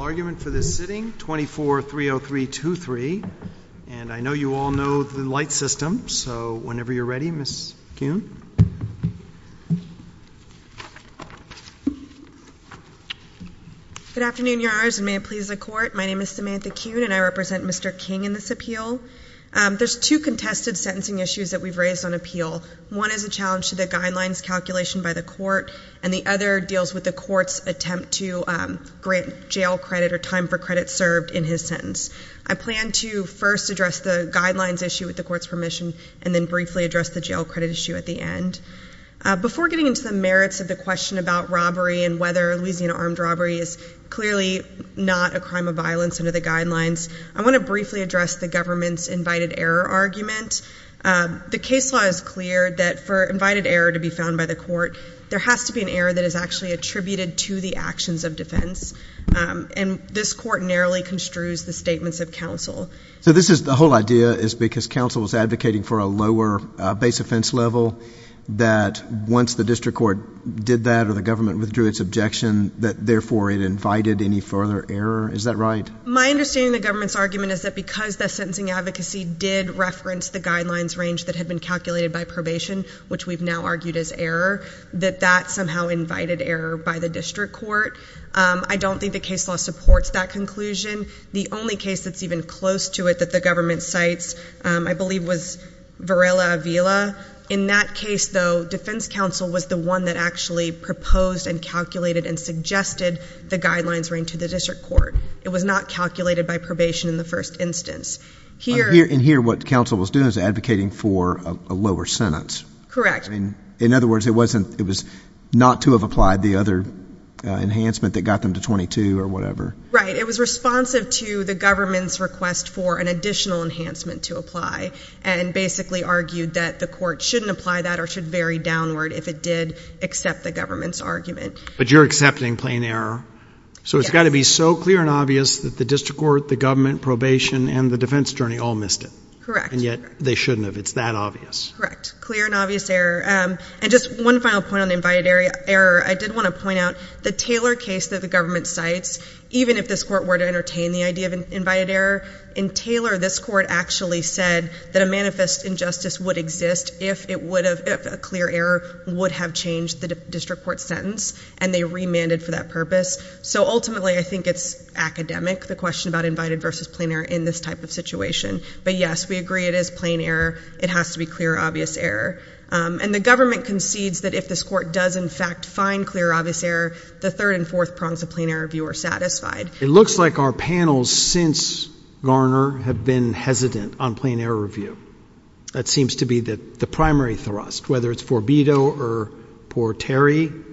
argument for this sitting, 24-303-23. And I know you all know the light system, so whenever you're ready, Ms. Kuhn. Good afternoon, Your Honors, and may it please the Court. My name is Samantha Kuhn, and I represent Mr. King in this appeal. There's two contested sentencing issues that we've raised on appeal. One is a challenge to the guidelines calculation by the Court, and the other deals with the Court's attempt to grant jail credit or time for credit served in his sentence. I plan to first address the guidelines issue with the Court's permission, and then briefly address the jail credit issue at the end. Before getting into the merits of the question about robbery and whether Louisiana armed robbery is clearly not a crime of violence under the guidelines, I want to briefly address the government's invited error argument. The case law is clear that for invited error to be found by the Court, there has to be an error that is actually attributed to the actions of defense, and this Court narrowly construes the statements of counsel. So this is the whole idea is because counsel is advocating for a lower base offense level, that once the district court did that or the government withdrew its objection, that therefore it invited any further error? Is that right? My understanding of the government's argument is that because the sentencing advocacy did reference the guidelines range that had been calculated by probation, which we've now argued is error, that that somehow invited error by the district court. I don't think the case law supports that conclusion. The only case that's even close to it that the government cites, I believe, was Varela-Avila. In that case, though, defense counsel was the one that actually proposed and calculated and suggested the guidelines range to the district court. It was not calculated by probation in the first instance. In here, what counsel was doing was advocating for a lower sentence. Correct. In other words, it was not to have applied the other enhancement that got them to 22 or whatever. Right. It was responsive to the government's request for an additional enhancement to apply and basically argued that the court shouldn't apply that or should vary downward if it did accept the government's argument. But you're accepting plain error. So it's got to be so clear and obvious that the district court, the government, probation, and the defense attorney all missed it. Correct. And yet they shouldn't have. It's that obvious. Correct. Clear and obvious error. And just one final point on the invited error. I did want to point out the Taylor case that the government cites, even if this court were to entertain the idea of invited error, in Taylor, this court actually said that a manifest injustice would exist if a clear error would have changed the district court's sentence and they remanded for that purpose. So ultimately, I think it's academic, the question about invited versus plain error in this type of situation. But yes, we agree it is plain error. It has to be clear, obvious error. And the government concedes that if this court does in fact find clear, obvious error, the third and fourth prongs of plain error review are satisfied. It looks like our panels since Garner have been hesitant on plain error review. That seems to be the primary thrust, whether it's Forbido or Porteri.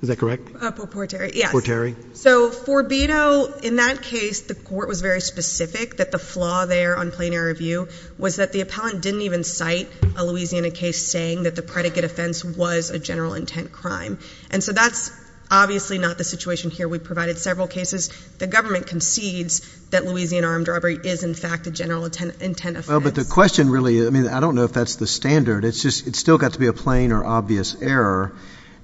Is that correct? Porteri, yes. Porteri. So Forbido, in that case, the court was very specific that the law there on plain error review was that the appellant didn't even cite a Louisiana case saying that the predicate offense was a general intent crime. And so that's obviously not the situation here. We provided several cases. The government concedes that Louisiana armed robbery is in fact a general intent offense. Well, but the question really, I mean, I don't know if that's the standard. It's just, it's still got to be a plain or obvious error.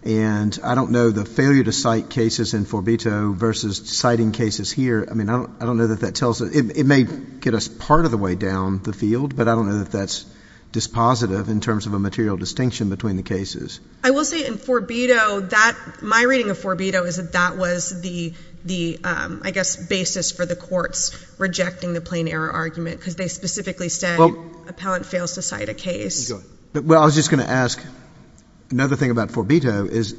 And I don't know the failure to cite cases in Forbido versus citing cases here. I mean, I don't, I don't know that that tells us, it may get us part of the way down the field, but I don't know that that's dispositive in terms of a material distinction between the cases. I will say in Forbido that my reading of Forbido is that that was the, the I guess basis for the courts rejecting the plain error argument because they specifically said appellant fails to cite a case. Well, I was just going to ask another thing about Forbido is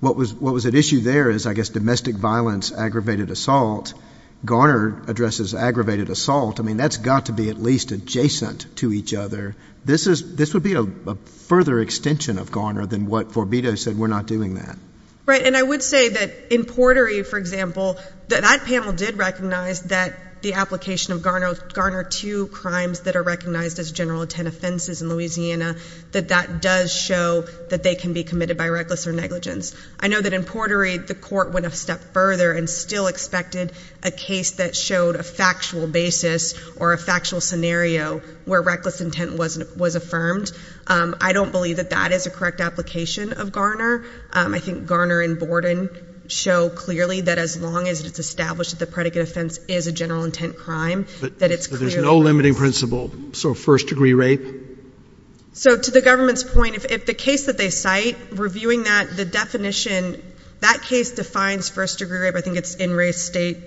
what was, what was at issue there is, I guess, domestic violence, aggravated assault. Garner addresses aggravated assault. I mean, that's got to be at least adjacent to each other. This is, this would be a further extension of Garner than what Forbido said we're not doing that. Right. And I would say that in Portery, for example, that that panel did recognize that the application of Garner, Garner two crimes that are recognized as general intent offenses in Louisiana, that that does show that they can be committed by reckless or negligence. I know that in Portery, the court went a step further and still expected a case that showed a factual basis or a factual scenario where reckless intent wasn't, was affirmed. I don't believe that that is a correct application of Garner. I think Garner and Borden show clearly that as long as it's established that the predicate offense is a general intent crime, that it's clear. There's no limiting principle. So first degree rape. So to the government's point, if the case that they cite reviewing that the definition, that case defines first degree rape, I think it's in race state.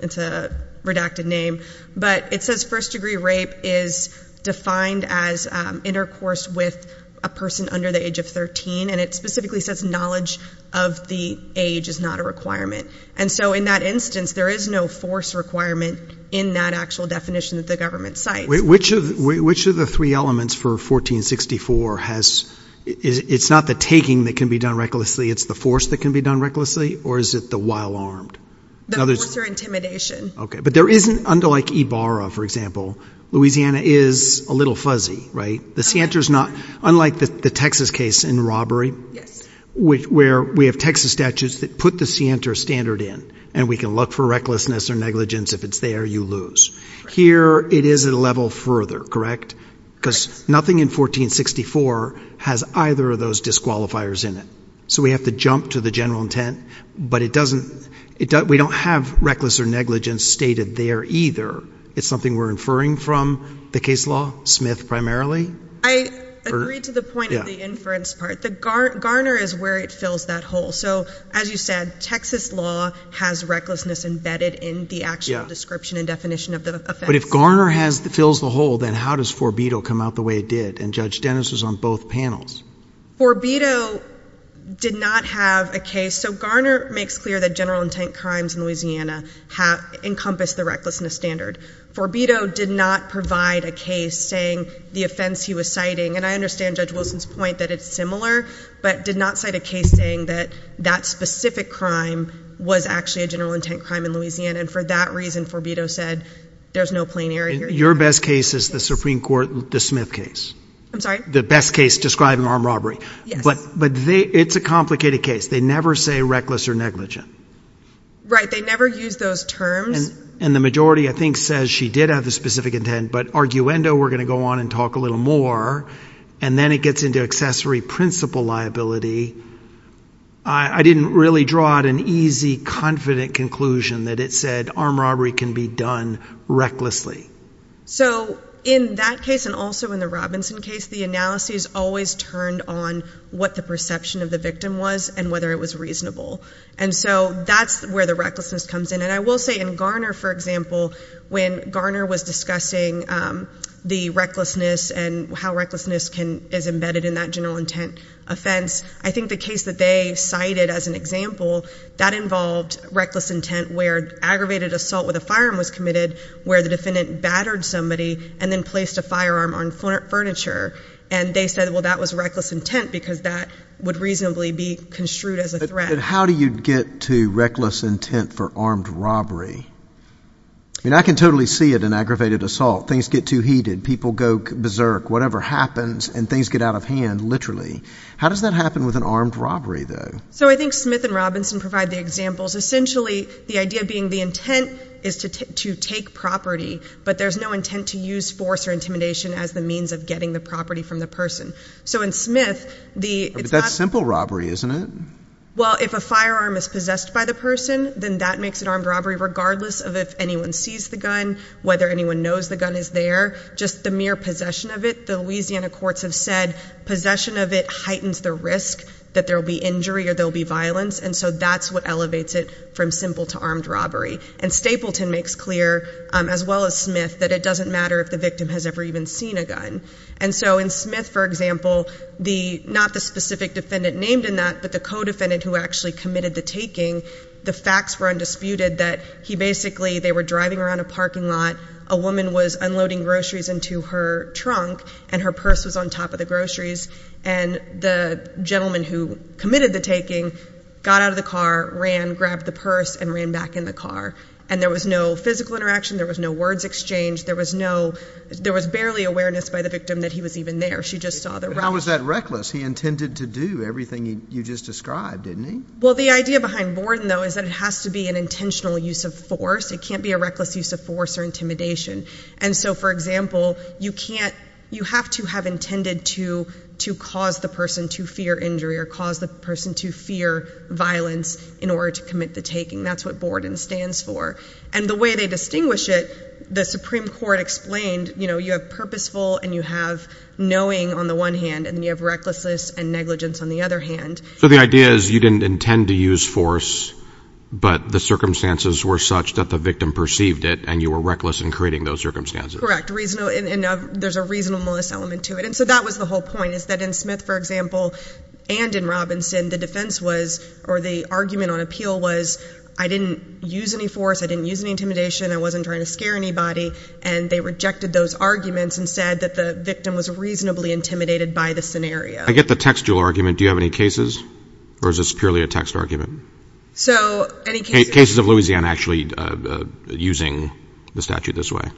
It's a redacted name, but it says first degree rape is defined as intercourse with a person under the age of 13. And it specifically says knowledge of the age is not a requirement. And so in that instance, there is no force requirement in that actual definition that the government cites. Which of the three elements for 1464 has, it's not the taking that can be done recklessly, it's the force that can be done recklessly, or is it the while armed? The force or intimidation. Okay. But there isn't, unlike Ibarra, for example, Louisiana is a little fuzzy, right? The Sienta is not, unlike the Texas case in robbery, where we have Texas statutes that put the Sienta standard in, and we can look for recklessness or negligence. If it's there, you lose. Here, it is at a level further, correct? Because nothing in 1464 has either of those disqualifiers in it. So we have to jump to the general intent, but it doesn't, we don't have reckless or negligence stated there either. It's something we're inferring from the case law, Smith primarily. I agree to the point of the inference part. The garner is where it fills that hole. So as you said, Texas law has recklessness embedded in the actual description and definition of the offense. But if Garner fills the hole, then how does Forbido come out the way it did? And Judge Dennis was on both panels. Forbido did not have a case, so Garner makes clear that general intent crimes in Louisiana encompass the recklessness standard. Forbido did not provide a case saying the offense he was citing, and I understand Judge Wilson's point that it's similar, but did not cite a case saying that that specific crime was actually a general intent crime in Louisiana. And for that reason, Forbido said, there's no plain error here. Your best case is the Supreme Court, the Smith case. I'm sorry? The best case describing armed robbery, but it's a complicated case. They never say reckless or negligent. Right. They never use those terms. And the majority, I think, says she did have the specific intent, but arguendo, we're going to go on and talk a little more, and then it gets into accessory principle liability. I didn't really draw out an easy, confident conclusion that it said armed robbery can be done recklessly. So in that case and also in the Robinson case, the analysis always turned on what the perception of the victim was and whether it was reasonable. And so that's where the recklessness comes in. And I will say in Garner, for example, when Garner was discussing the recklessness and how recklessness is embedded in that general intent offense, I think the case that they cited as an example, that involved reckless intent where aggravated assault with a firearm was committed where the defendant battered somebody and then placed a firearm on furniture. And they said, well, that was reckless intent because that would reasonably be construed as a threat. But how do you get to reckless intent for armed robbery? I mean, I can totally see it in aggravated assault. Things get too heated. People go berserk. Whatever happens, and things get out of hand, literally. How does that happen with an armed robbery, though? So I think Smith and Robinson provide the examples. Essentially, the idea being the intent is to take property, but there's no intent to use force or intimidation as the means of getting the property from the person. So in Smith, it's not— But that's simple robbery, isn't it? Well, if a firearm is possessed by the person, then that makes it armed robbery regardless of if anyone sees the gun, whether anyone knows the gun is there. Just the mere possession of it, the Louisiana courts have said possession of it heightens the risk that there will be injury or there will be violence. And so that's what elevates it from simple to armed robbery. And Stapleton makes clear, as well as Smith, that it doesn't matter if the victim has ever even seen a gun. And so in Smith, for example, not the specific defendant named in that, but the co-defendant who actually committed the taking, the facts were undisputed that he basically—they were driving around a parking lot. A woman was unloading groceries into her trunk, and her purse was on top of the groceries. And the gentleman who committed the taking got out of the car, ran, grabbed the purse, and ran back in the car. And there was no physical interaction. There was no words exchanged. There was no—there was barely awareness by the victim that he was even there. She just saw the— But how was that reckless? He intended to do everything you just described, didn't he? Well, the idea behind Borden, though, is that it has to be an intentional use of force. It can't be a reckless use of force or intimidation. And so, for example, you can't—you have to have intended to cause the person to fear injury or cause the person to fear violence in order to commit the taking. That's what Borden stands for. And the way they distinguish it, the Supreme Court explained, you know, you have purposeful and you have knowing on the one hand, and then you have recklessness and negligence on the other hand. So the idea is you didn't intend to use force, but the circumstances were such that the victim perceived it, and you were reckless in creating those circumstances. Correct. And there's a reasonableness element to it. And so that was the whole point, is that in Smith, for example, and in Robinson, the defense was—or the argument on appeal was I didn't use any force, I didn't use any intimidation, I wasn't trying to scare I get the textual argument. Do you have any cases, or is this purely a text argument? So any cases— Cases of Louisiana actually using the statute this way.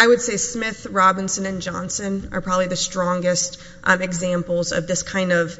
I would say Smith, Robinson, and Johnson are probably the strongest examples of this kind of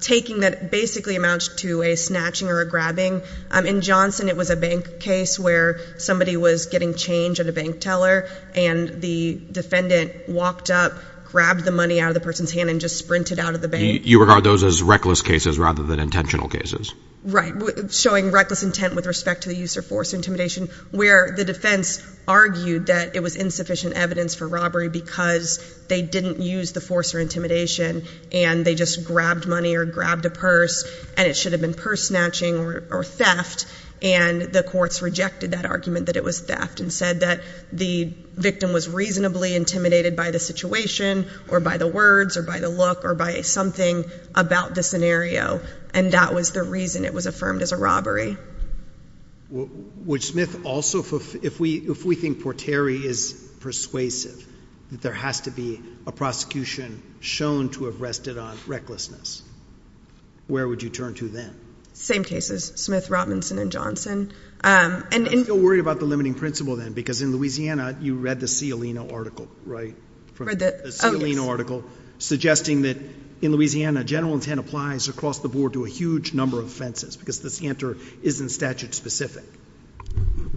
taking that basically amounts to a snatching or a grabbing. In Johnson, it was a bank case where somebody was getting change at a bank teller, and the defendant walked up, grabbed the money out of the person's hand, and just sprinted out of the bank. You regard those as reckless cases rather than intentional cases. Right. Showing reckless intent with respect to the use of force or intimidation, where the defense argued that it was insufficient evidence for robbery because they didn't use the force or intimidation, and they just grabbed money or grabbed a purse, and it should have been purse snatching or theft, and the courts rejected that argument that it was theft and said that the victim was reasonably intimidated by the situation or by the words or by the look or by something about the scenario, and that was the reason it was affirmed as a robbery. Would Smith also—if we think Portieri is persuasive, that there has to be a prosecution shown to have rested on recklessness, where would you turn to then? Same cases, Smith, Robinson, and Johnson. I'm still worried about the limiting principle, then, because in Louisiana, you read the Cialino article, right? Read the—oh, yes. The Cialino article suggesting that in Louisiana, general intent applies across the board to a huge number of offenses, because this answer isn't statute specific.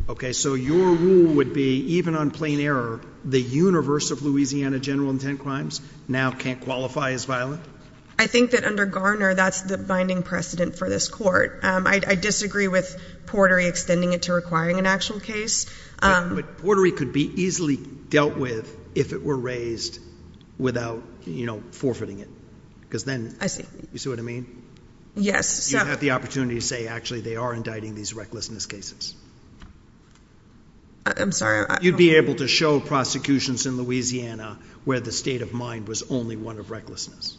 Okay, so your rule would be, even on plain error, the universe of Louisiana general intent crimes now can't qualify as violent? I think that under Garner, that's the binding precedent for this Court. I disagree with Portieri extending it to requiring an actual case. But Portieri could be easily dealt with if it were raised without, you know, forfeiting it, because then— I see. You see what I mean? Yes, so— You have the opportunity to say, actually, they are indicting these recklessness cases. I'm sorry, I don't— You'd be able to show prosecutions in Louisiana where the state of mind was only one of recklessness.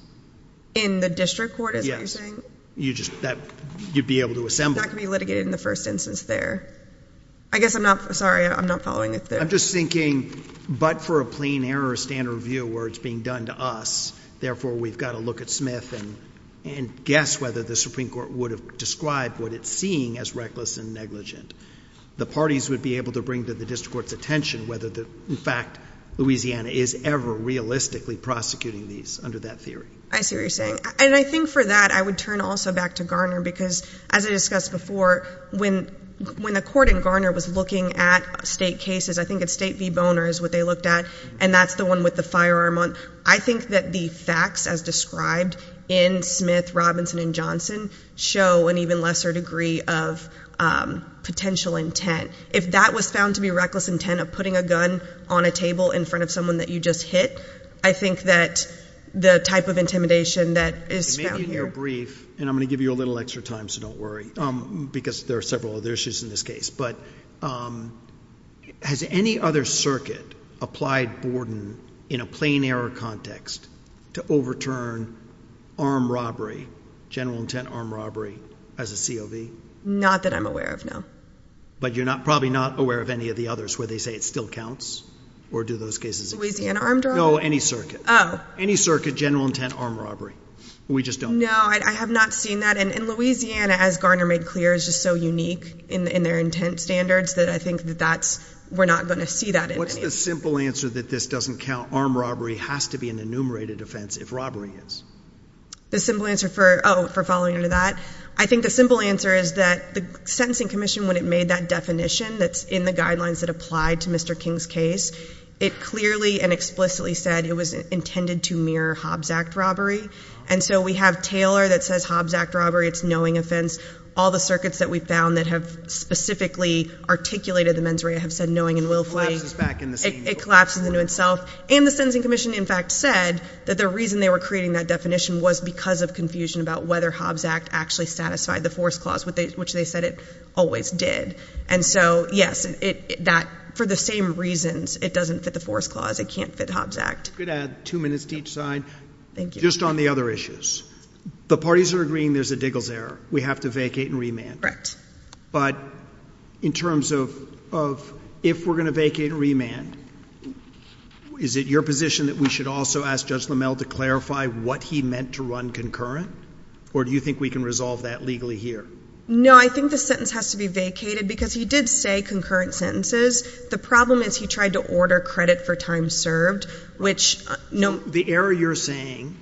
In the district court, is that what you're saying? Yes. You just—that—you'd be able to assemble it. It's not going to be litigated in the first instance there. I guess I'm not—sorry, I'm not following it there. I'm just thinking, but for a plain error standard review where it's being done to us, therefore we've got to look at Smith and guess whether the Supreme Court would have described what it's seeing as reckless and negligent. The parties would be able to bring to the district court's attention whether the—in fact, Louisiana is ever realistically prosecuting these under that theory. I see what you're saying. And I think for that, I would turn also back to Garner, because as I discussed before, when the court in Garner was looking at state cases, I think it's State v. Boner is what they looked at, and that's the one with the firearm on. I think that the facts as described in Smith, Robinson, and Johnson show an even lesser degree of potential intent. If that was found to be reckless intent of putting a gun on a table in front of someone that you just hit, I think that the type of intimidation that is found here— And I'm going to give you a little extra time, so don't worry, because there are several other issues in this case. But has any other circuit applied Borden in a plain error context to overturn armed robbery, general intent armed robbery, as a COV? Not that I'm aware of, no. But you're probably not aware of any of the others where they say it still counts, or do those cases— Louisiana armed robbery? No, any circuit. Oh. Any circuit, general intent armed robbery. We just don't know. No, I have not seen that. And Louisiana, as Garner made clear, is just so unique in their intent standards that I think that that's—we're not going to see that in any of these cases. What's the simple answer that this doesn't count? Armed robbery has to be an enumerated offense if robbery is. The simple answer for—oh, for following into that? I think the simple answer is that the Sentencing Commission, when it made that definition that's in the guidelines that applied to Mr. King's case, it clearly and explicitly said it was intended to mirror Hobbs Act robbery. And so we have Taylor that says Hobbs Act robbery, it's knowing offense. All the circuits that we've found that have specifically articulated the mens rea have said knowing and willfully— It collapses back in the same— It collapses into itself. And the Sentencing Commission, in fact, said that the reason they were creating that definition was because of confusion about whether Hobbs Act actually satisfied the force clause, which they said it always did. And so, yes, that, for the same reasons, it doesn't fit the force clause. It can't fit Hobbs Act. I could add two minutes to each side. Thank you. Just on the other issues. The parties are agreeing there's a Diggles error. We have to vacate and remand. Correct. But in terms of if we're going to vacate and remand, is it your position that we should also ask Judge Lammel to clarify what he meant to run concurrent? Or do you think we can resolve that legally here? No, I think the sentence has to be vacated because he did say concurrent sentences. The problem is he tried to order credit for time served, which— The error you're saying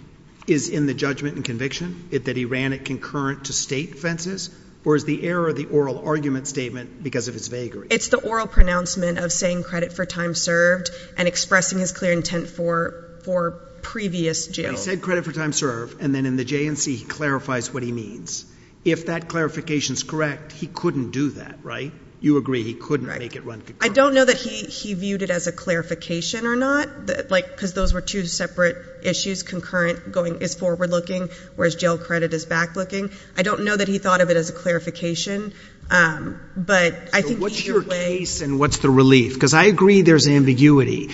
is in the judgment and conviction that he ran it concurrent to state offenses? Or is the error the oral argument statement because of its vagary? It's the oral pronouncement of saying credit for time served and expressing his clear intent for previous jails. But he said credit for time served, and then in the J&C, he clarifies what he means. If that clarification's correct, he couldn't do that, right? You agree he couldn't make it run concurrent. I don't know that he viewed it as a clarification or not, because those were two separate issues. Concurrent is forward-looking, whereas jail credit is back-looking. I don't know that he thought of it as a clarification. But I think either way— So what's your case, and what's the relief? Because I agree there's ambiguity.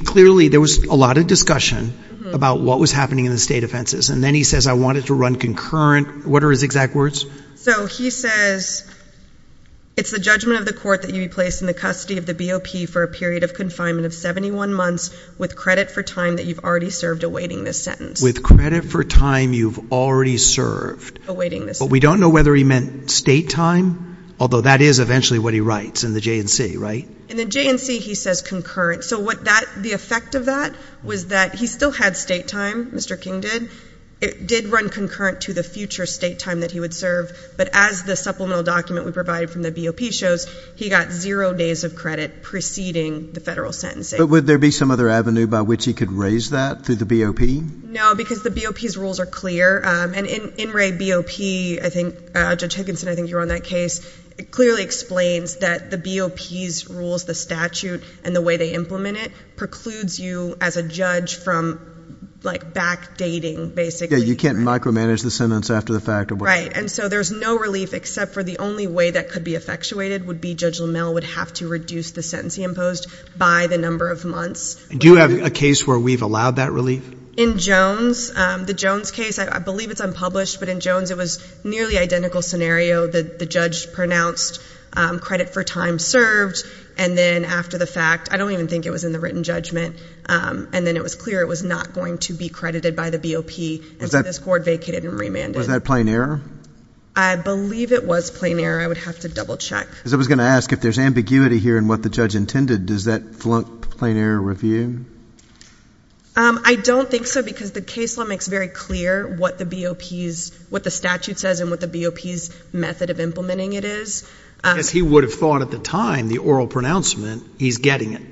Clearly, there was a lot of discussion about what was happening in the state offenses. And then he says, I want it to run concurrent. What are his exact words? So he says, it's the judgment of the court that you be placed in the custody of the BOP for a period of confinement of 71 months with credit for time that you've already served awaiting this sentence. With credit for time you've already served. Awaiting this sentence. But we don't know whether he meant state time, although that is eventually what he writes in the J&C, right? In the J&C, he says concurrent. So what that—the effect of that was that he still had state time, Mr. King did. It did run concurrent to the future state time that he would serve. But as the supplemental document we provided from the BOP shows, he got zero days of credit preceding the federal sentencing. But would there be some other avenue by which he could raise that through the BOP? No, because the BOP's rules are clear. And in Wray BOP, I think—Judge Higginson, I think you were on that case—it clearly explains that the BOP's rules, the statute, and the way they implement it precludes you as a judge from, like, backdating, basically. Yeah, you can't micromanage the sentence after the fact. Right. And so there's no relief except for the only way that could be effectuated would be Judge LaMelle would have to reduce the sentence he imposed by the number of months. Do you have a case where we've allowed that relief? In Jones, the Jones case, I believe it's unpublished, but in Jones it was nearly identical scenario. The judge pronounced credit for time served. And then after the fact, I don't even think it was in the written judgment, and then it was clear it was not going to be credited by the BOP, and so this court vacated and remanded. Was that plain error? I believe it was plain error. I would have to double-check. Because I was going to ask, if there's ambiguity here in what the judge intended, does that flunk the plain error review? I don't think so, because the case law makes very clear what the BOP's—what the statute says and what the BOP's method of implementing it is. Because he would have thought at the time, the oral pronouncement, he's getting it.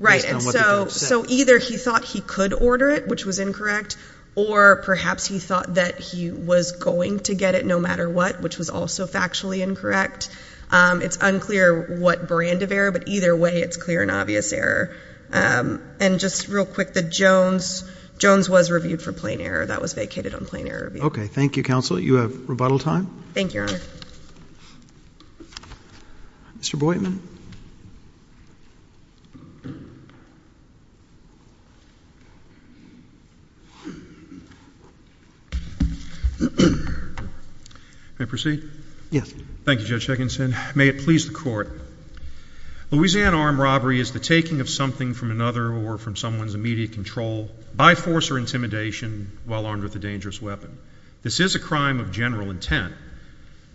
Right. Based on what the judge said. And so either he thought he could order it, which was incorrect, or perhaps he thought that he was going to get it no matter what, which was also factually incorrect. It's unclear what brand of error, but either way, it's clear and obvious error. And just real quick, the Jones—Jones was reviewed for plain error. That was vacated on plain error review. Okay. Thank you, Counsel. You have rebuttal time. Thank you, Your Honor. Mr. Boydman. May I proceed? Yes. Thank you, Judge Higginson. May it please the Court. Louisiana armed robbery is the taking of something from another or from someone's immediate control by force or intimidation while armed with a dangerous weapon. This is a crime of general intent,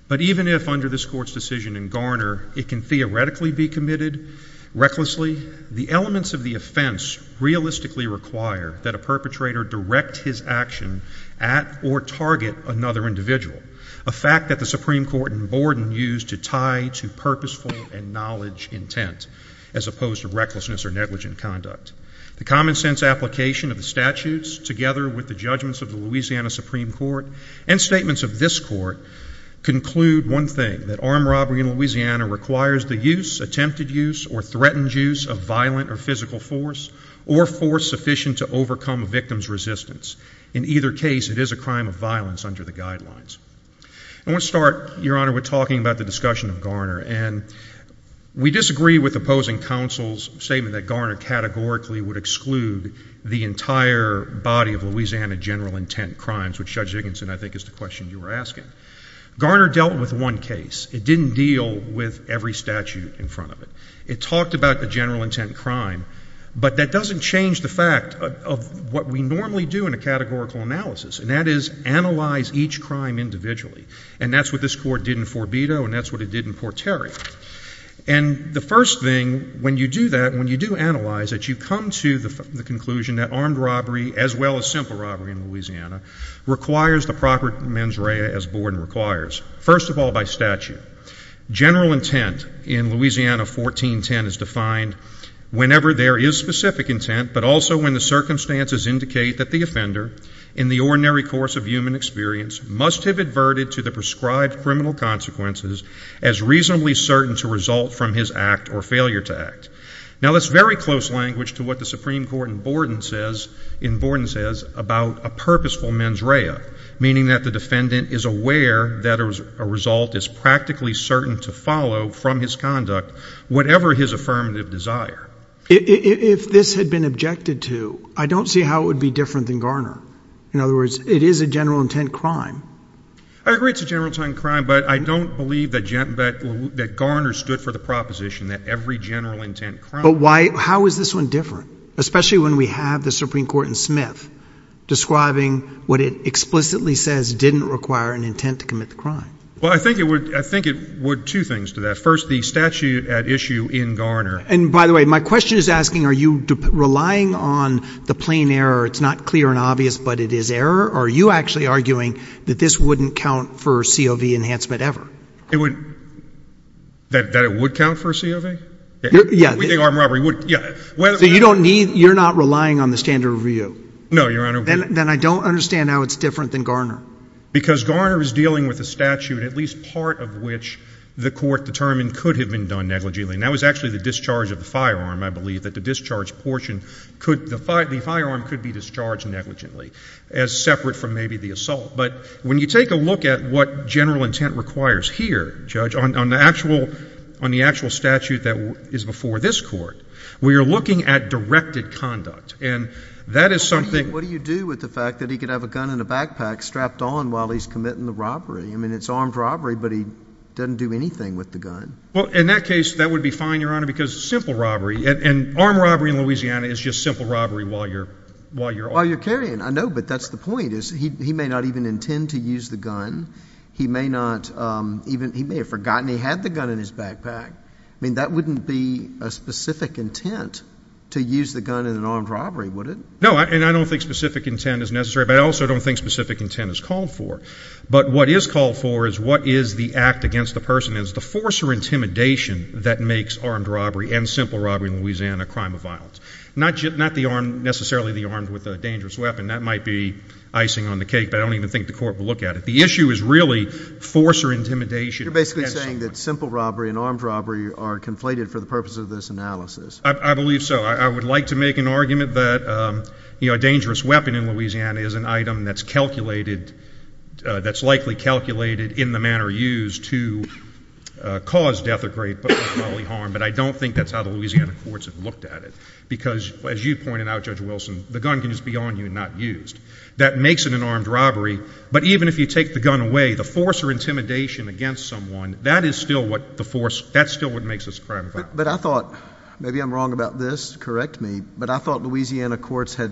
but even if under this Court's decision in Garner, it can theoretically be committed recklessly, the elements of the offense realistically require that a perpetrator direct his action at or target another individual, a fact that the Supreme Court in Borden used to tie to purposeful and knowledge intent as opposed to recklessness or negligent conduct. The common sense application of the statutes together with the judgments of the Louisiana Supreme Court and statements of this Court conclude one thing, that armed robbery in Louisiana requires the use, attempted use, or threatened use of violent or physical force or force sufficient to overcome a victim's resistance. In either case, it is a crime of violence under the guidelines. I want to start, Your Honor, with talking about the discussion of Garner, and we disagree with opposing counsel's statement that Garner categorically would exclude the entire body of Louisiana general intent crimes, which, Judge Dickinson, I think is the question you were asking. Garner dealt with one case. It didn't deal with every statute in front of it. It talked about the general intent crime, but that doesn't change the fact of what we normally do in a categorical analysis, and that is analyze each crime individually. And that's what this Court did in Forbido, and that's what it did in Porterio. And the first thing, when you do that, when you do analyze it, you come to the conclusion that armed robbery, as well as simple robbery in Louisiana, requires the proper mens rea as Borden requires, first of all, by statute. General intent in Louisiana 1410 is defined whenever there is specific intent, but also when the circumstances indicate that the offender in the ordinary course of human experience must have adverted to the prescribed criminal consequences as reasonably certain to result from his act or failure to act. Now, that's very close language to what the Supreme Court in Borden says about a purposeful mens rea, meaning that the defendant is aware that a result is practically certain to follow from his conduct, whatever his affirmative desire. If this had been objected to, I don't see how it would be different than Garner. In other words, it is a general intent crime. I agree it's a general intent crime, but I don't believe that Garner stood for the proposition that every general intent crime... But why, how is this one different? Especially when we have the Supreme Court in Smith describing what it explicitly says didn't require an intent to commit the crime. Well, I think it would, I think it would, two things to that. First, the statute at issue in Garner... And by the way, my question is asking, are you relying on the plain error, it's not clear and obvious, but it is error, or are you actually arguing that this wouldn't count for COV enhancement ever? It would, that it would count for a COV? Yeah. We think armed robbery would, yeah. So you don't need, you're not relying on the standard review? No, Your Honor. Then I don't understand how it's different than Garner. Because Garner is dealing with a statute, at least part of which the court determined could have been done negligently, and that was actually the discharge of the firearm. I believe that the discharge portion could, the firearm could be discharged negligently as separate from maybe the assault. But when you take a look at what general intent requires here, Judge, on the actual statute that is before this court, we are looking at directed conduct, and that is something... What do you do with the fact that he could have a gun in a backpack strapped on while he's committing the robbery? I mean, it's armed robbery, but he doesn't do anything with the gun. Well, in that case, that would be fine, Your Honor, because it's simple robbery, and armed robbery in Louisiana is just simple robbery while you're, while you're... While you're carrying. I know, but that's the point, is he may not even intend to use the gun. He may not even, he may have forgotten he had the gun in his backpack. I mean, that wouldn't be a specific intent to use the gun in an armed robbery, would it? No, and I don't think specific intent is necessary, but I also don't think specific intent is called for. But what is called for is what is the act against the person as the force or intimidation that makes armed robbery and simple robbery in Louisiana a crime of violence. Not just, not the armed, necessarily the armed with a dangerous weapon. That might be icing on the cake, but I don't even think the court will look at it. The issue is really force or intimidation. You're basically saying that simple robbery and armed robbery are conflated for the purpose of this analysis. I believe so. I would like to make an argument that, you know, a dangerous weapon in Louisiana is an item that's calculated, that's likely calculated in the manner used to cause death or great bodily harm, but I don't think that's how the Louisiana courts have looked at it. Because, as you pointed out, Judge Wilson, the gun can just be on you and not used. That makes it an armed robbery, but even if you take the gun away, the force or intimidation against someone, that is still what the force, that's still what makes this a crime of violence. But I thought, maybe I'm wrong about this, correct me, but I thought Louisiana courts had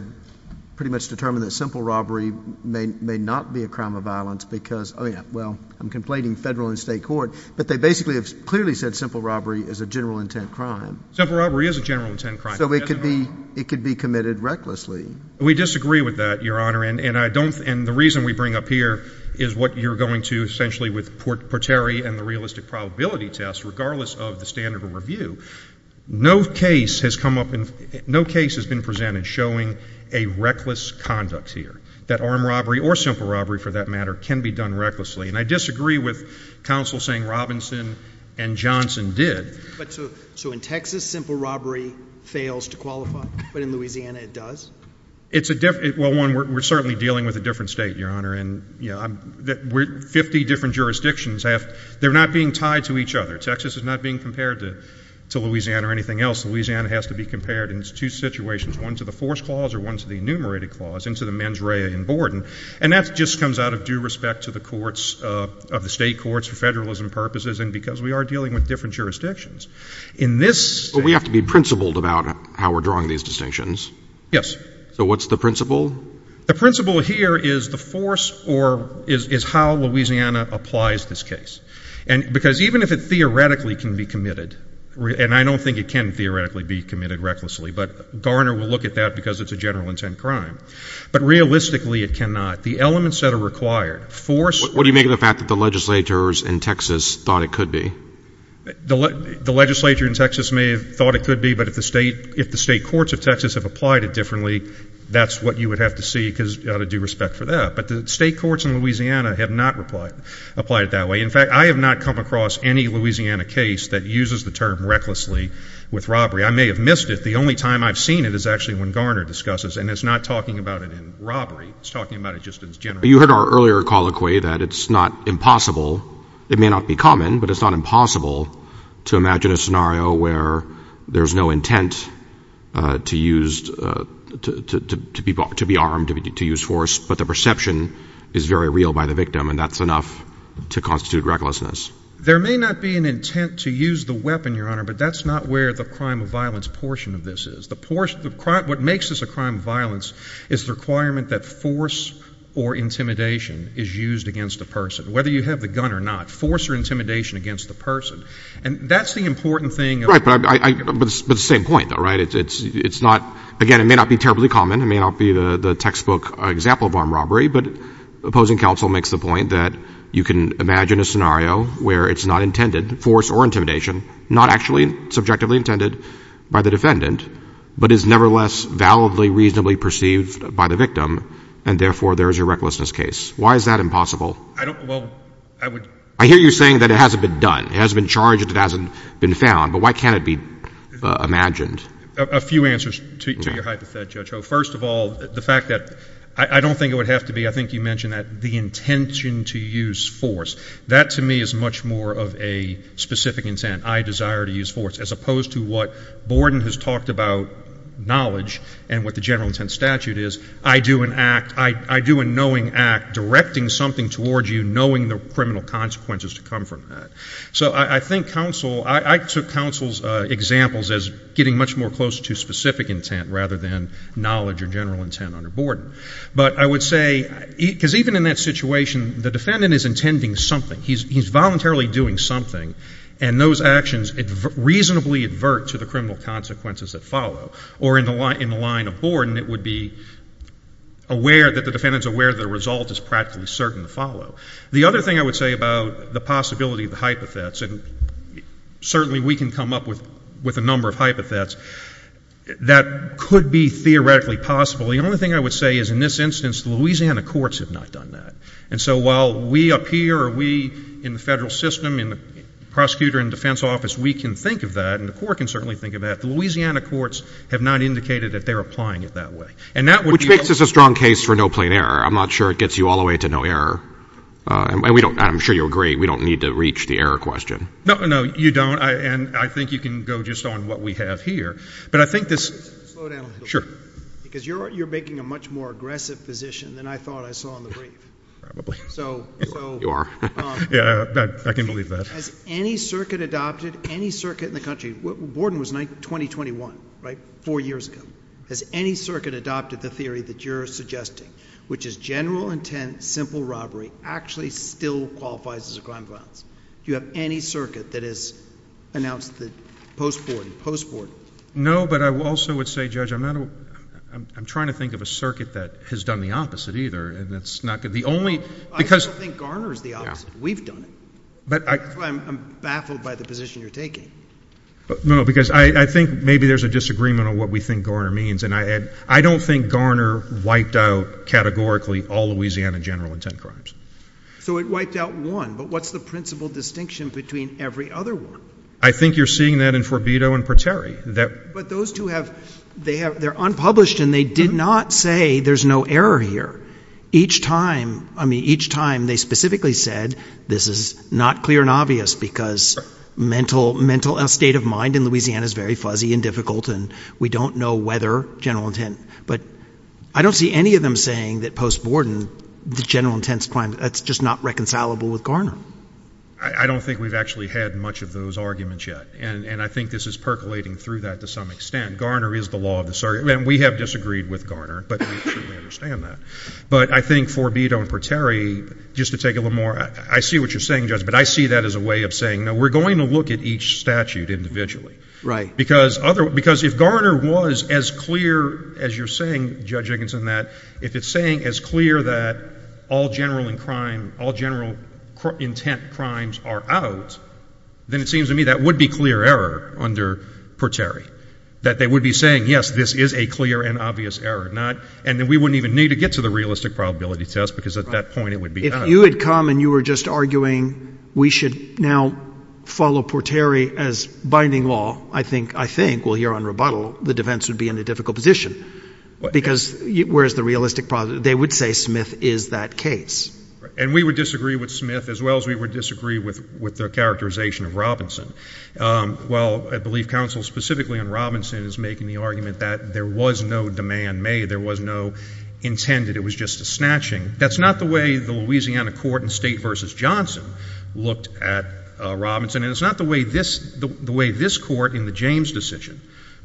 pretty much determined that simple robbery may not be a crime of violence because, I mean, well, I'm complaining federal and state court, but they basically have clearly said simple robbery is a general intent crime. Simple robbery is a general intent crime. So it could be committed recklessly. We disagree with that, Your Honor, and I don't, and the reason we bring up here is what you're going to essentially with Porteri and the realistic probability test, regardless of the standard of review, no case has come up, no case has been presented showing a reckless conduct here, that armed robbery or simple robbery, for that matter, can be done recklessly. And I disagree with counsel saying Robinson and Johnson did. So in Texas, simple robbery fails to qualify, but in Louisiana it does? It's a, well, one, we're certainly dealing with a different state, Your Honor, and, you know, I'm, we're, 50 different jurisdictions have, they're not being tied to each other. Texas is not being compared to Louisiana or anything else. Louisiana has to be compared in two situations, one to the force clause or one to the enumerated clause into the mens rea in Borden. And that just comes out of due respect to the courts of the state courts for federalism purposes and because we are dealing with different jurisdictions. In this... But we have to be principled about how we're drawing these distinctions. Yes. So what's the principle? The principle here is the force or is how Louisiana applies this case. And because even if it theoretically can be committed, and I don't think it can theoretically be committed recklessly, but Garner will look at that because it's a general intent crime, but realistically it cannot. The elements that are required, force... What do you make of the fact that the legislators in Texas thought it could be? The legislature in Texas may have thought it could be, but if the state, if the state courts of Texas have applied it differently, that's what you would have to see because out of due respect for that. But the state courts in Louisiana have not replied, applied it that way. In fact, I have not come across any Louisiana case that uses the term recklessly with robbery. I may have missed it. The only time I've seen it is actually when Garner discusses and it's not talking about it in robbery. It's talking about it just in general. You heard our earlier colloquy that it's not impossible, it may not be common, but it's not impossible to imagine a scenario where there's no intent to use, to be armed, to use force, but the perception is very real by the victim and that's enough to constitute recklessness. There may not be an intent to use the weapon, Your Honor, but that's not where the crime of violence portion of this is. What makes this a crime of violence is the requirement that force or intimidation is used against the person, whether you have the gun or not, force or intimidation against the person. And that's the important thing. Right, but the same point, though, right? It's not, again, it may not be terribly common, it may not be the textbook example of armed robbery, but opposing counsel makes the point that you can imagine a scenario where it's not intended, force or intimidation, not actually subjectively intended by the defendant, but is nevertheless validly, reasonably perceived by the victim and therefore there is a recklessness case. Why is that impossible? I don't, well, I would... I hear you saying that it hasn't been done, it hasn't been charged, it hasn't been found, but why can't it be imagined? A few answers to your hypothet, Judge Ho. First of all, the fact that, I don't think it would have to be, I think you mentioned that, the intention to use force. That to me is much more of a specific intent, I desire to use force, as opposed to what Borden has talked about, knowledge, and what the general intent statute is, I do an act, I do a knowing act, directing something towards you, knowing the criminal consequences to come from that. So I think counsel, I took counsel's examples as getting much more close to specific intent rather than knowledge or general intent under Borden. But I would say, because even in that situation, the defendant is intending something, he's voluntarily doing something, and those actions reasonably advert to the criminal consequences that follow. Or in the line of Borden, it would be aware, that the defendant is aware that the result is practically certain to follow. The other thing I would say about the possibility of the hypothets, and certainly we can come up with a number of hypothets, that could be theoretically possible, the only thing I would say is in this instance, the Louisiana courts have not done that. And so while we up here, or we in the federal system, in the prosecutor and defense office, we can think of that, and the court can certainly think of that, the Louisiana courts have not indicated that they're applying it that way. And that would be... Which makes this a strong case for no plain error. I'm not sure it gets you all the way to no error, and I'm sure you'll agree, we don't need to reach the error question. No, no, you don't, and I think you can go just on what we have here. But I think this... Slow down. Sure. Because you're making a much more aggressive position than I thought I saw in the brief. Probably. You are. Yeah, I can believe that. Has any circuit adopted, any circuit in the country, Borden was 20-21, right? Four years ago. Has any circuit adopted the theory that you're suggesting? Which is general intent, simple robbery, actually still qualifies as a crime of violence. Do you have any circuit that has announced the post-Borden, post-Borden? No, but I also would say, Judge, I'm trying to think of a circuit that has done the opposite either, and that's not good. The only... I still think Garner is the opposite. We've done it. That's why I'm baffled by the position you're taking. No, because I think maybe there's a disagreement on what we think Garner means, and I don't think Garner wiped out categorically all Louisiana general intent crimes. So it wiped out one, but what's the principal distinction between every other one? I think you're seeing that in Forbido and Pateri. But those two have, they're unpublished, and they did not say there's no error here. Each time, I mean, each time they specifically said, this is not clear and obvious because mental state of mind in Louisiana is very fuzzy and difficult, and we don't know whether general intent. But I don't see any of them saying that post-Borden, the general intent crime, that's just not reconcilable with Garner. I don't think we've actually had much of those arguments yet, and I think this is percolating through that to some extent. Garner is the law of the circuit. I mean, we have disagreed with Garner, but I'm sure we understand that. But I think Forbido and Pateri, just to take a little more, I see what you're saying, Judge, but I see that as a way of saying, no, we're going to look at each statute individually. Because if Garner was as clear as you're saying, Judge Higginson, that if it's saying as clear that all general intent crimes are out, then it seems to me that would be clear error under Pateri. That they would be saying, yes, this is a clear and obvious error. And then we wouldn't even need to get to the realistic probability test, because at that point it would be out. If you had come and you were just arguing, we should now follow Pateri as binding law, I think, I think, well, here on rebuttal, the defense would be in a difficult position. Because where's the realistic probability? They would say Smith is that case. And we would disagree with Smith as well as we would disagree with the characterization of Robinson. Well, I believe counsel specifically on Robinson is making the argument that there was no demand made. There was no intended. It was just a snatching. That's not the way the Louisiana court in State v. Johnson looked at Robinson, and it's not the way this court in the James decision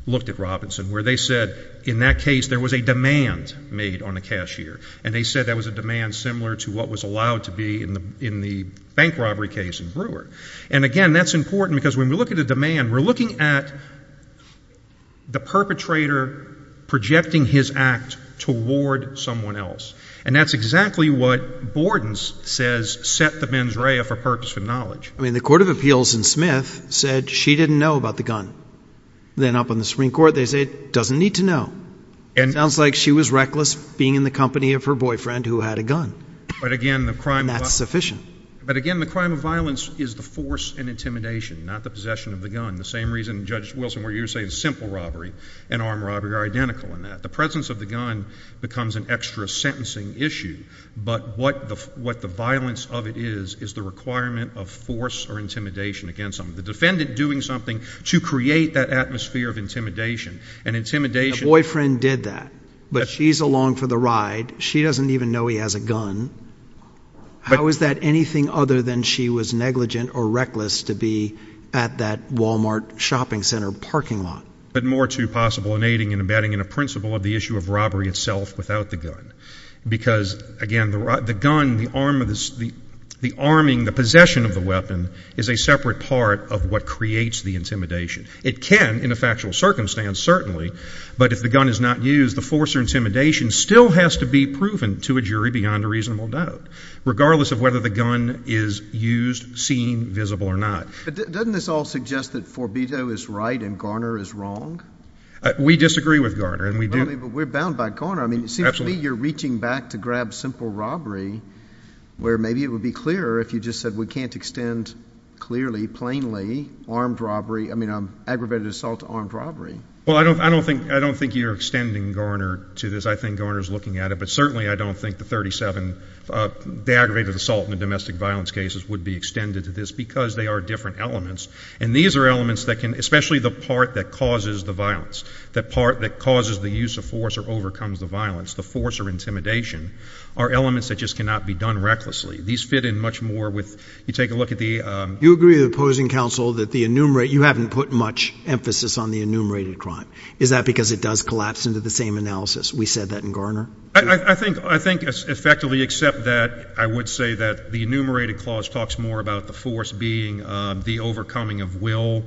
looked at Robinson, where they said in that case there was a demand made on the cashier. And they said that was a demand similar to what was allowed to be in the bank robbery case in Brewer. And again, that's important because when we look at a demand, we're looking at the perpetrator projecting his act toward someone else. And that's exactly what Bordens says set the mens rea for purpose of knowledge. I mean, the court of appeals in Smith said she didn't know about the gun. Then up on the Supreme Court, they said, doesn't need to know. Sounds like she was reckless being in the company of her boyfriend who had a gun. And that's sufficient. But again, the crime of violence is the force and intimidation, not the possession of the gun. The same reason Judge Wilson, where you're saying simple robbery and armed robbery are identical in that. The presence of the gun becomes an extra sentencing issue. But what the violence of it is, is the requirement of force or intimidation against them. The defendant doing something to create that atmosphere of intimidation and intimidation. Boyfriend did that, but she's along for the ride. She doesn't even know he has a gun. How is that anything other than she was negligent or reckless to be at that Walmart shopping center parking lot? But more to possible in aiding and abetting in a principle of the issue of robbery itself without the gun. Because again, the gun, the arm of this, the arming, the possession of the weapon is a separate part of what creates the intimidation. It can, in a factual circumstance, certainly. But if the gun is not used, the force or intimidation still has to be proven to a jury beyond a reasonable doubt, regardless of whether the gun is used, seen, visible or not. But doesn't this all suggest that Forbido is right and Garner is wrong? We disagree with Garner. And we do. But we're bound by Garner. I mean, it seems to me you're reaching back to grab simple robbery where maybe it would be clearer if you just said we can't extend clearly, plainly, armed robbery, I mean, aggravated assault to armed robbery. Well, I don't think you're extending Garner to this. I think Garner's looking at it. But certainly, I don't think the 37, the aggravated assault in the domestic violence cases would be extended to this because they are different elements. And these are elements that can, especially the part that causes the violence, the part that causes the use of force or overcomes the violence, the force or intimidation, are elements that just cannot be done recklessly. These fit in much more with, you take a look at the... You agree with the opposing counsel that the enumerated, you haven't put much emphasis on the enumerated crime. Is that because it does collapse into the same analysis? We said that in Garner? I think, I think effectively except that, I would say that the enumerated clause talks more about the force being the overcoming of will,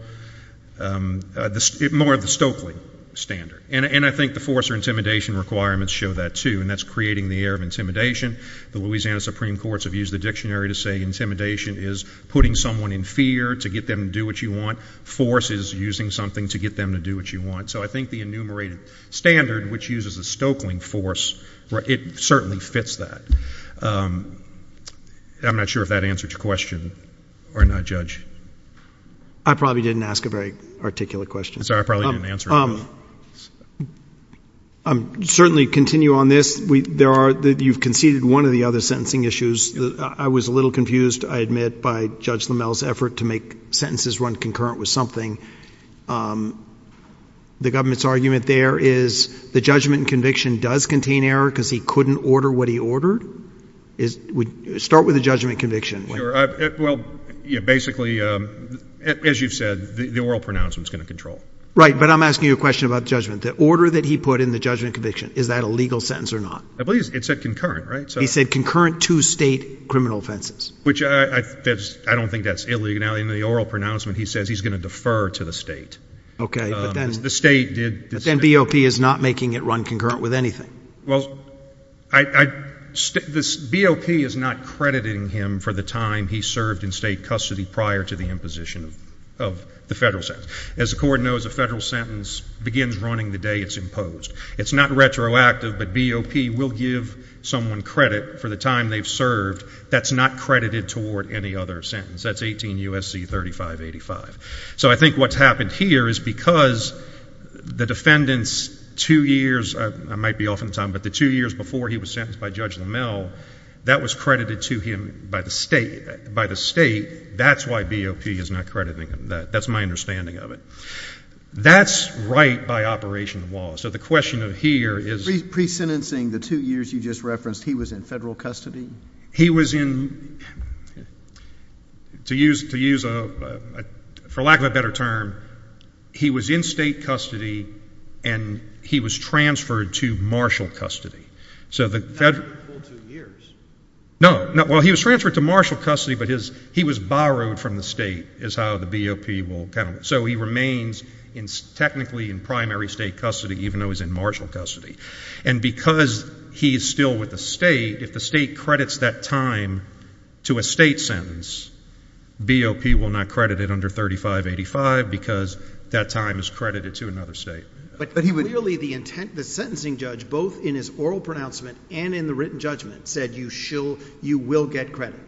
more of the Stokely standard. And I think the force or intimidation requirements show that too. And that's creating the air of intimidation. The Louisiana Supreme Courts have used the dictionary to say intimidation is putting someone in fear to get them to do what you want. Force is using something to get them to do what you want. So I think the enumerated standard, which uses a Stokeling force, it certainly fits that. I'm not sure if that answered your question or not, Judge. I probably didn't ask a very articulate question. I'm sorry, I probably didn't answer it. Certainly continue on this. There are, you've conceded one of the other sentencing issues. I was a little confused, I admit, by Judge LaMelle's effort to make sentences run concurrent with something. The government's argument there is the judgment and conviction does contain error because he couldn't order what he ordered? Start with the judgment and conviction. Sure. Well, basically, as you've said, the oral pronouncement is going to control. Right, but I'm asking you a question about judgment. The order that he put in the judgment and conviction, is that a legal sentence or not? I believe it said concurrent, right? He said concurrent to state criminal offenses. Which I don't think that's illegal. Now, in the oral pronouncement, he says he's going to defer to the state. Okay, but then BOP is not making it run concurrent with anything. Well, BOP is not crediting him for the time he served in state custody prior to the imposition of the federal sentence. As the court knows, a federal sentence begins running the day it's imposed. It's not retroactive, but BOP will give someone credit for the time they've served that's not credited toward any other sentence. That's 18 U.S.C. 3585. So I think what's happened here is because the defendant's two years, I might be off on time, but the two years before he was sentenced by Judge LaMelle, that was credited to him by the state. That's why BOP is not crediting him. That's my understanding of it. That's right by operation of law. So the question of here is... Pre-sentencing, the two years you just referenced, he was in federal custody? He was in, to use, for lack of a better term, he was in state custody and he was transferred to marshal custody. So the federal... Not the full two years. No, no. Well, he was transferred to marshal custody, but he was borrowed from the state is how the BOP will... So he remains technically in primary state custody, even though he's in marshal custody. And because he's still with the state, if the state credits that time to a state sentence, BOP will not credit it under 3585 because that time is credited to another state. But clearly the sentencing judge, both in his oral pronouncement and in the written judgment said, you will get credit.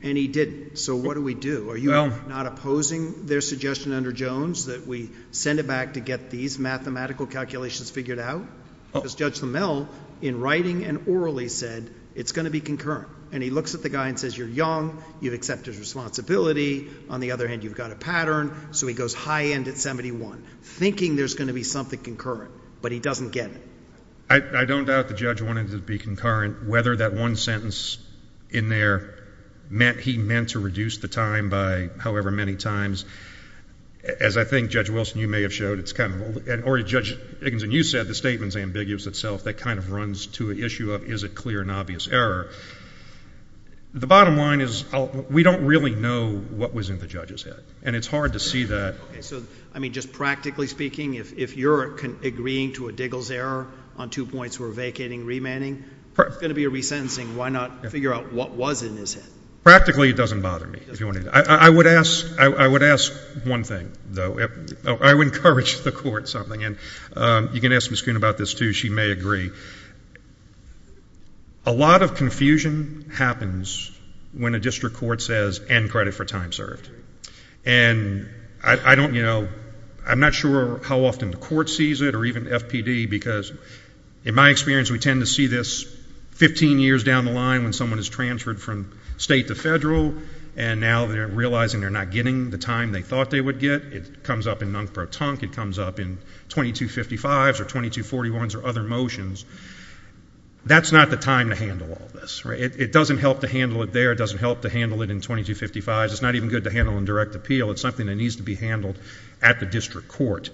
And he didn't. So what do we do? What do we do? Are you not opposing their suggestion under Jones that we send it back to get these mathematical calculations figured out? Because Judge Lamel, in writing and orally said, it's going to be concurrent. And he looks at the guy and says, you're young, you've accepted responsibility. On the other hand, you've got a pattern. So he goes high end at 71, thinking there's going to be something concurrent, but he doesn't get it. I don't doubt the judge wanted it to be concurrent. Whether that one sentence in there meant he meant to reduce the time by however many times, as I think Judge Wilson, you may have showed, it's kind of, or Judge Iggins and you said the statement's ambiguous itself. That kind of runs to an issue of, is it clear and obvious error? The bottom line is we don't really know what was in the judge's head. And it's hard to see that. Okay. So, I mean, just practically speaking, if you're agreeing to a Diggles error on two points, where vacating, remanding, if it's going to be a resentencing, why not figure out what was in his head? Practically it doesn't bother me. I would ask one thing, though. I would encourage the court something. And you can ask Ms. Coon about this, too. She may agree. A lot of confusion happens when a district court says end credit for time served. And I don't, you know, I'm not sure how often the court sees it or even FPD, because in my experience, we tend to see this 15 years down the line when someone is transferred from state to federal, and now they're realizing they're not getting the time they thought they would get. It comes up in nunc pro tonc. It comes up in 2255s or 2241s or other motions. That's not the time to handle all this, right? It doesn't help to handle it there. It doesn't help to handle it in 2255s. It's not even good to handle in direct appeal. It's something that needs to be handled at the district court.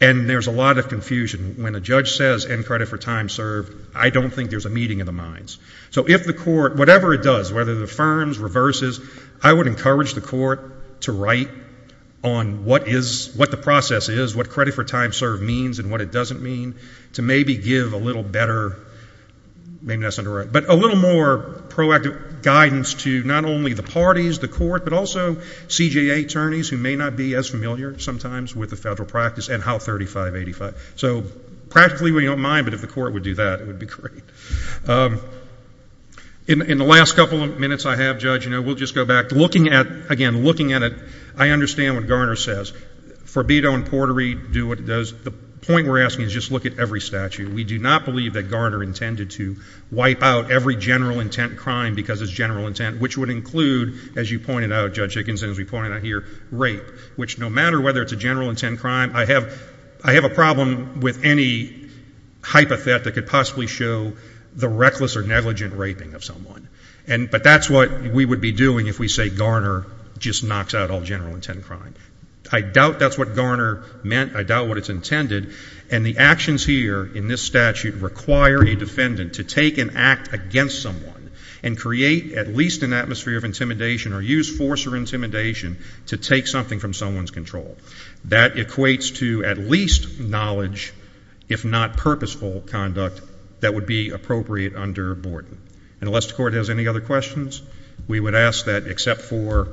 And there's a lot of confusion. When a judge says end credit for time served, I don't think there's a meeting of the minds. So if the court, whatever it does, whether it affirms, reverses, I would encourage the court to write on what is, what the process is, what credit for time served means and what it doesn't mean, to maybe give a little better, maybe that's indirect, but a little more proactive guidance to not only the parties, the court, but also CJA attorneys who may not be as familiar sometimes with the federal practice and how 3585. So practically, we don't mind, but if the court would do that, it would be great. In the last couple of minutes I have, Judge, you know, we'll just go back. Looking at, again, looking at it, I understand what Garner says. Forbido and portery do what it does. The point we're asking is just look at every statute. We do not believe that Garner intended to wipe out every general intent crime because it's general intent, which would include, as you pointed out, Judge Hickinson, as we pointed out here, rape, which no matter whether it's a general intent crime, I have a problem with any hypothet that could possibly show the reckless or negligent raping of someone. But that's what we would be doing if we say Garner just knocks out all general intent crime. I doubt that's what Garner meant. I doubt what it's intended. And the actions here in this statute require a defendant to take and act against someone and create at least an atmosphere of intimidation or use force or intimidation to take something from someone's control. That equates to at least knowledge, if not purposeful conduct, that would be appropriate under Borden. And unless the court has any other questions, we would ask that except for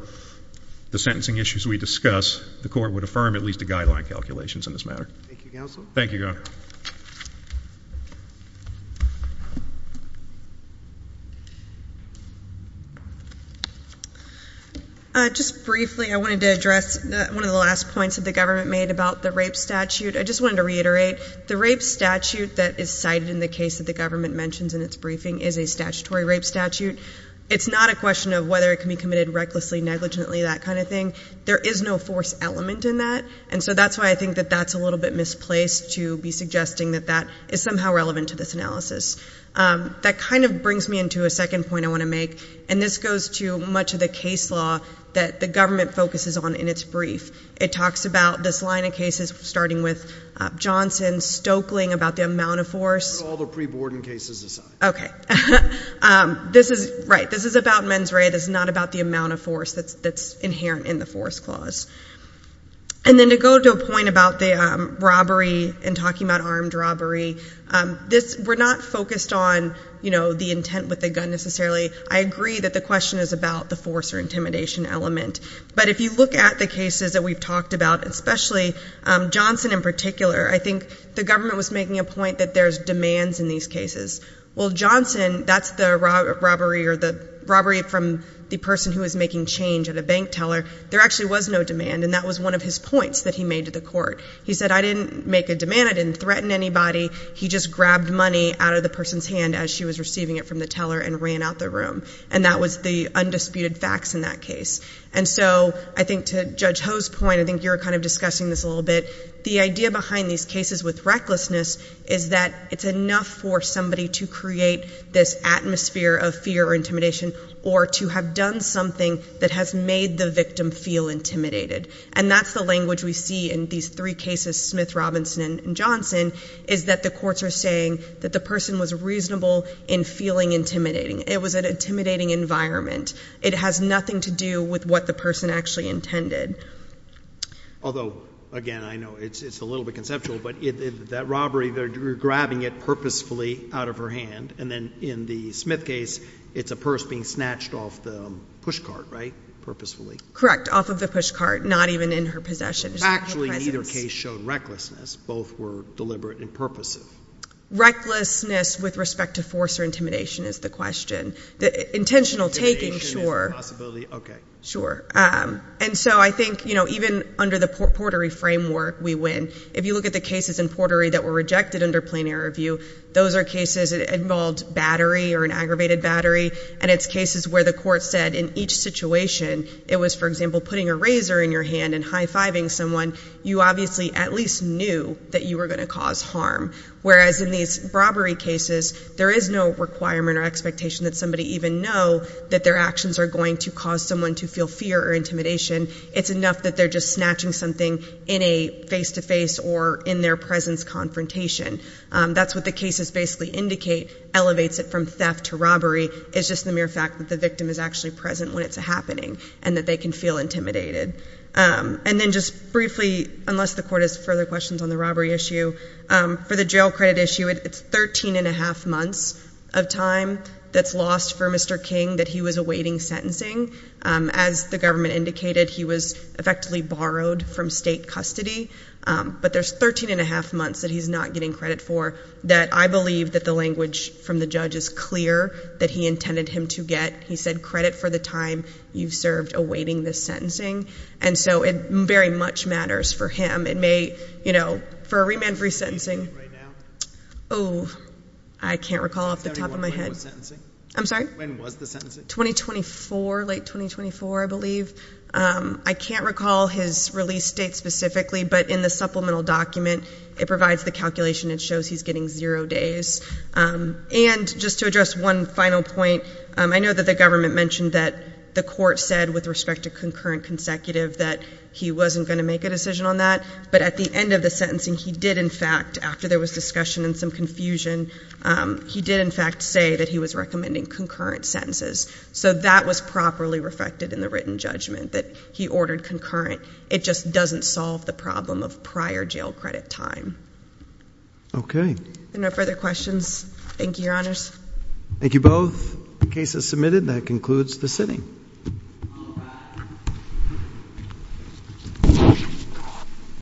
the sentencing issues we discuss, the court would affirm at least the guideline calculations in this Thank you, Counsel. Thank you, Governor. Just briefly, I wanted to address one of the last points that the government made about the rape statute. I just wanted to reiterate, the rape statute that is cited in the case that the government mentions in its briefing is a statutory rape statute. It's not a question of whether it can be committed recklessly, negligently, that kind of thing. There is no force element in that. And so that's why I think that that's a little bit misplaced to be suggesting that that is somehow relevant to this analysis. That kind of brings me into a second point I want to make. And this goes to much of the case law that the government focuses on in its brief. It talks about this line of cases, starting with Johnson, Stokeling, about the amount of force. Put all the pre-Borden cases aside. Okay. This is right. This is about men's rape. It's not about the amount of force that's inherent in the force clause. And then to go to a point about the robbery and talking about armed robbery, we're not focused on, you know, the intent with the gun necessarily. I agree that the question is about the force or intimidation element. But if you look at the cases that we've talked about, especially Johnson in particular, I think the government was making a point that there's demands in these cases. Well, Johnson, that's the robbery from the person who is making change at a bank teller. There actually was no demand, and that was one of his points that he made to the court. He said, I didn't make a demand. I didn't threaten anybody. He just grabbed money out of the person's hand as she was receiving it from the teller and ran out the room. And that was the undisputed facts in that case. And so I think to Judge Ho's point, I think you were kind of discussing this a little bit. The idea behind these cases with recklessness is that it's enough for somebody to create this atmosphere of fear or intimidation, or to have done something that has made the victim feel intimidated. And that's the language we see in these three cases, Smith, Robinson, and Johnson, is that the courts are saying that the person was reasonable in feeling intimidating. It was an intimidating environment. It has nothing to do with what the person actually intended. Although, again, I know it's a little bit conceptual, but that robbery, they're grabbing it purposefully out of her hand. And then in the Smith case, it's a purse being snatched off the push cart, right, purposefully? Correct. Off of the push cart, not even in her possession, just in her presence. Actually, neither case showed recklessness. Both were deliberate and purposive. Recklessness with respect to force or intimidation is the question. Intentional taking, sure. Intimidation is a possibility. OK. Sure. And so I think, you know, even under the Portery framework, we win. If you look at the cases in Portery that were rejected under Plain Air Review, those are cases that involved battery or an aggravated battery, and it's cases where the court said in each situation, it was, for example, putting a razor in your hand and high-fiving someone, you obviously at least knew that you were going to cause harm. Whereas in these robbery cases, there is no requirement or expectation that somebody even know that their actions are going to cause someone to feel fear or intimidation. It's enough that they're just snatching something in a face-to-face or in their presence confrontation. That's what the cases basically indicate, elevates it from theft to robbery. It's just the mere fact that the victim is actually present when it's happening and that they can feel intimidated. And then just briefly, unless the court has further questions on the robbery issue, for the jail credit issue, it's 13 and a half months of time that's lost for Mr. King that he was awaiting sentencing. As the government indicated, he was effectively borrowed from state custody. But there's 13 and a half months that he's not getting credit for that I believe that the language from the judge is clear that he intended him to get. He said, credit for the time you've served awaiting this sentencing. And so it very much matters for him. It may, you know, for a remand-free sentencing- What's the date right now? Oh, I can't recall off the top of my head. When was the sentencing? I'm sorry? When was the sentencing? 2024, late 2024, I believe. I can't recall his release date specifically, but in the supplemental document, it provides the calculation and shows he's getting zero days. And just to address one final point, I know that the government mentioned that the court said with respect to concurrent consecutive that he wasn't going to make a decision on that. But at the end of the sentencing, he did in fact, after there was discussion and some confusion, he did in fact say that he was recommending concurrent sentences. So that was properly reflected in the written judgment, that he ordered concurrent. It just doesn't solve the problem of prior jail credit time. Okay. No further questions? Thank you, Your Honors. Thank you both. The case is submitted. That concludes the sitting.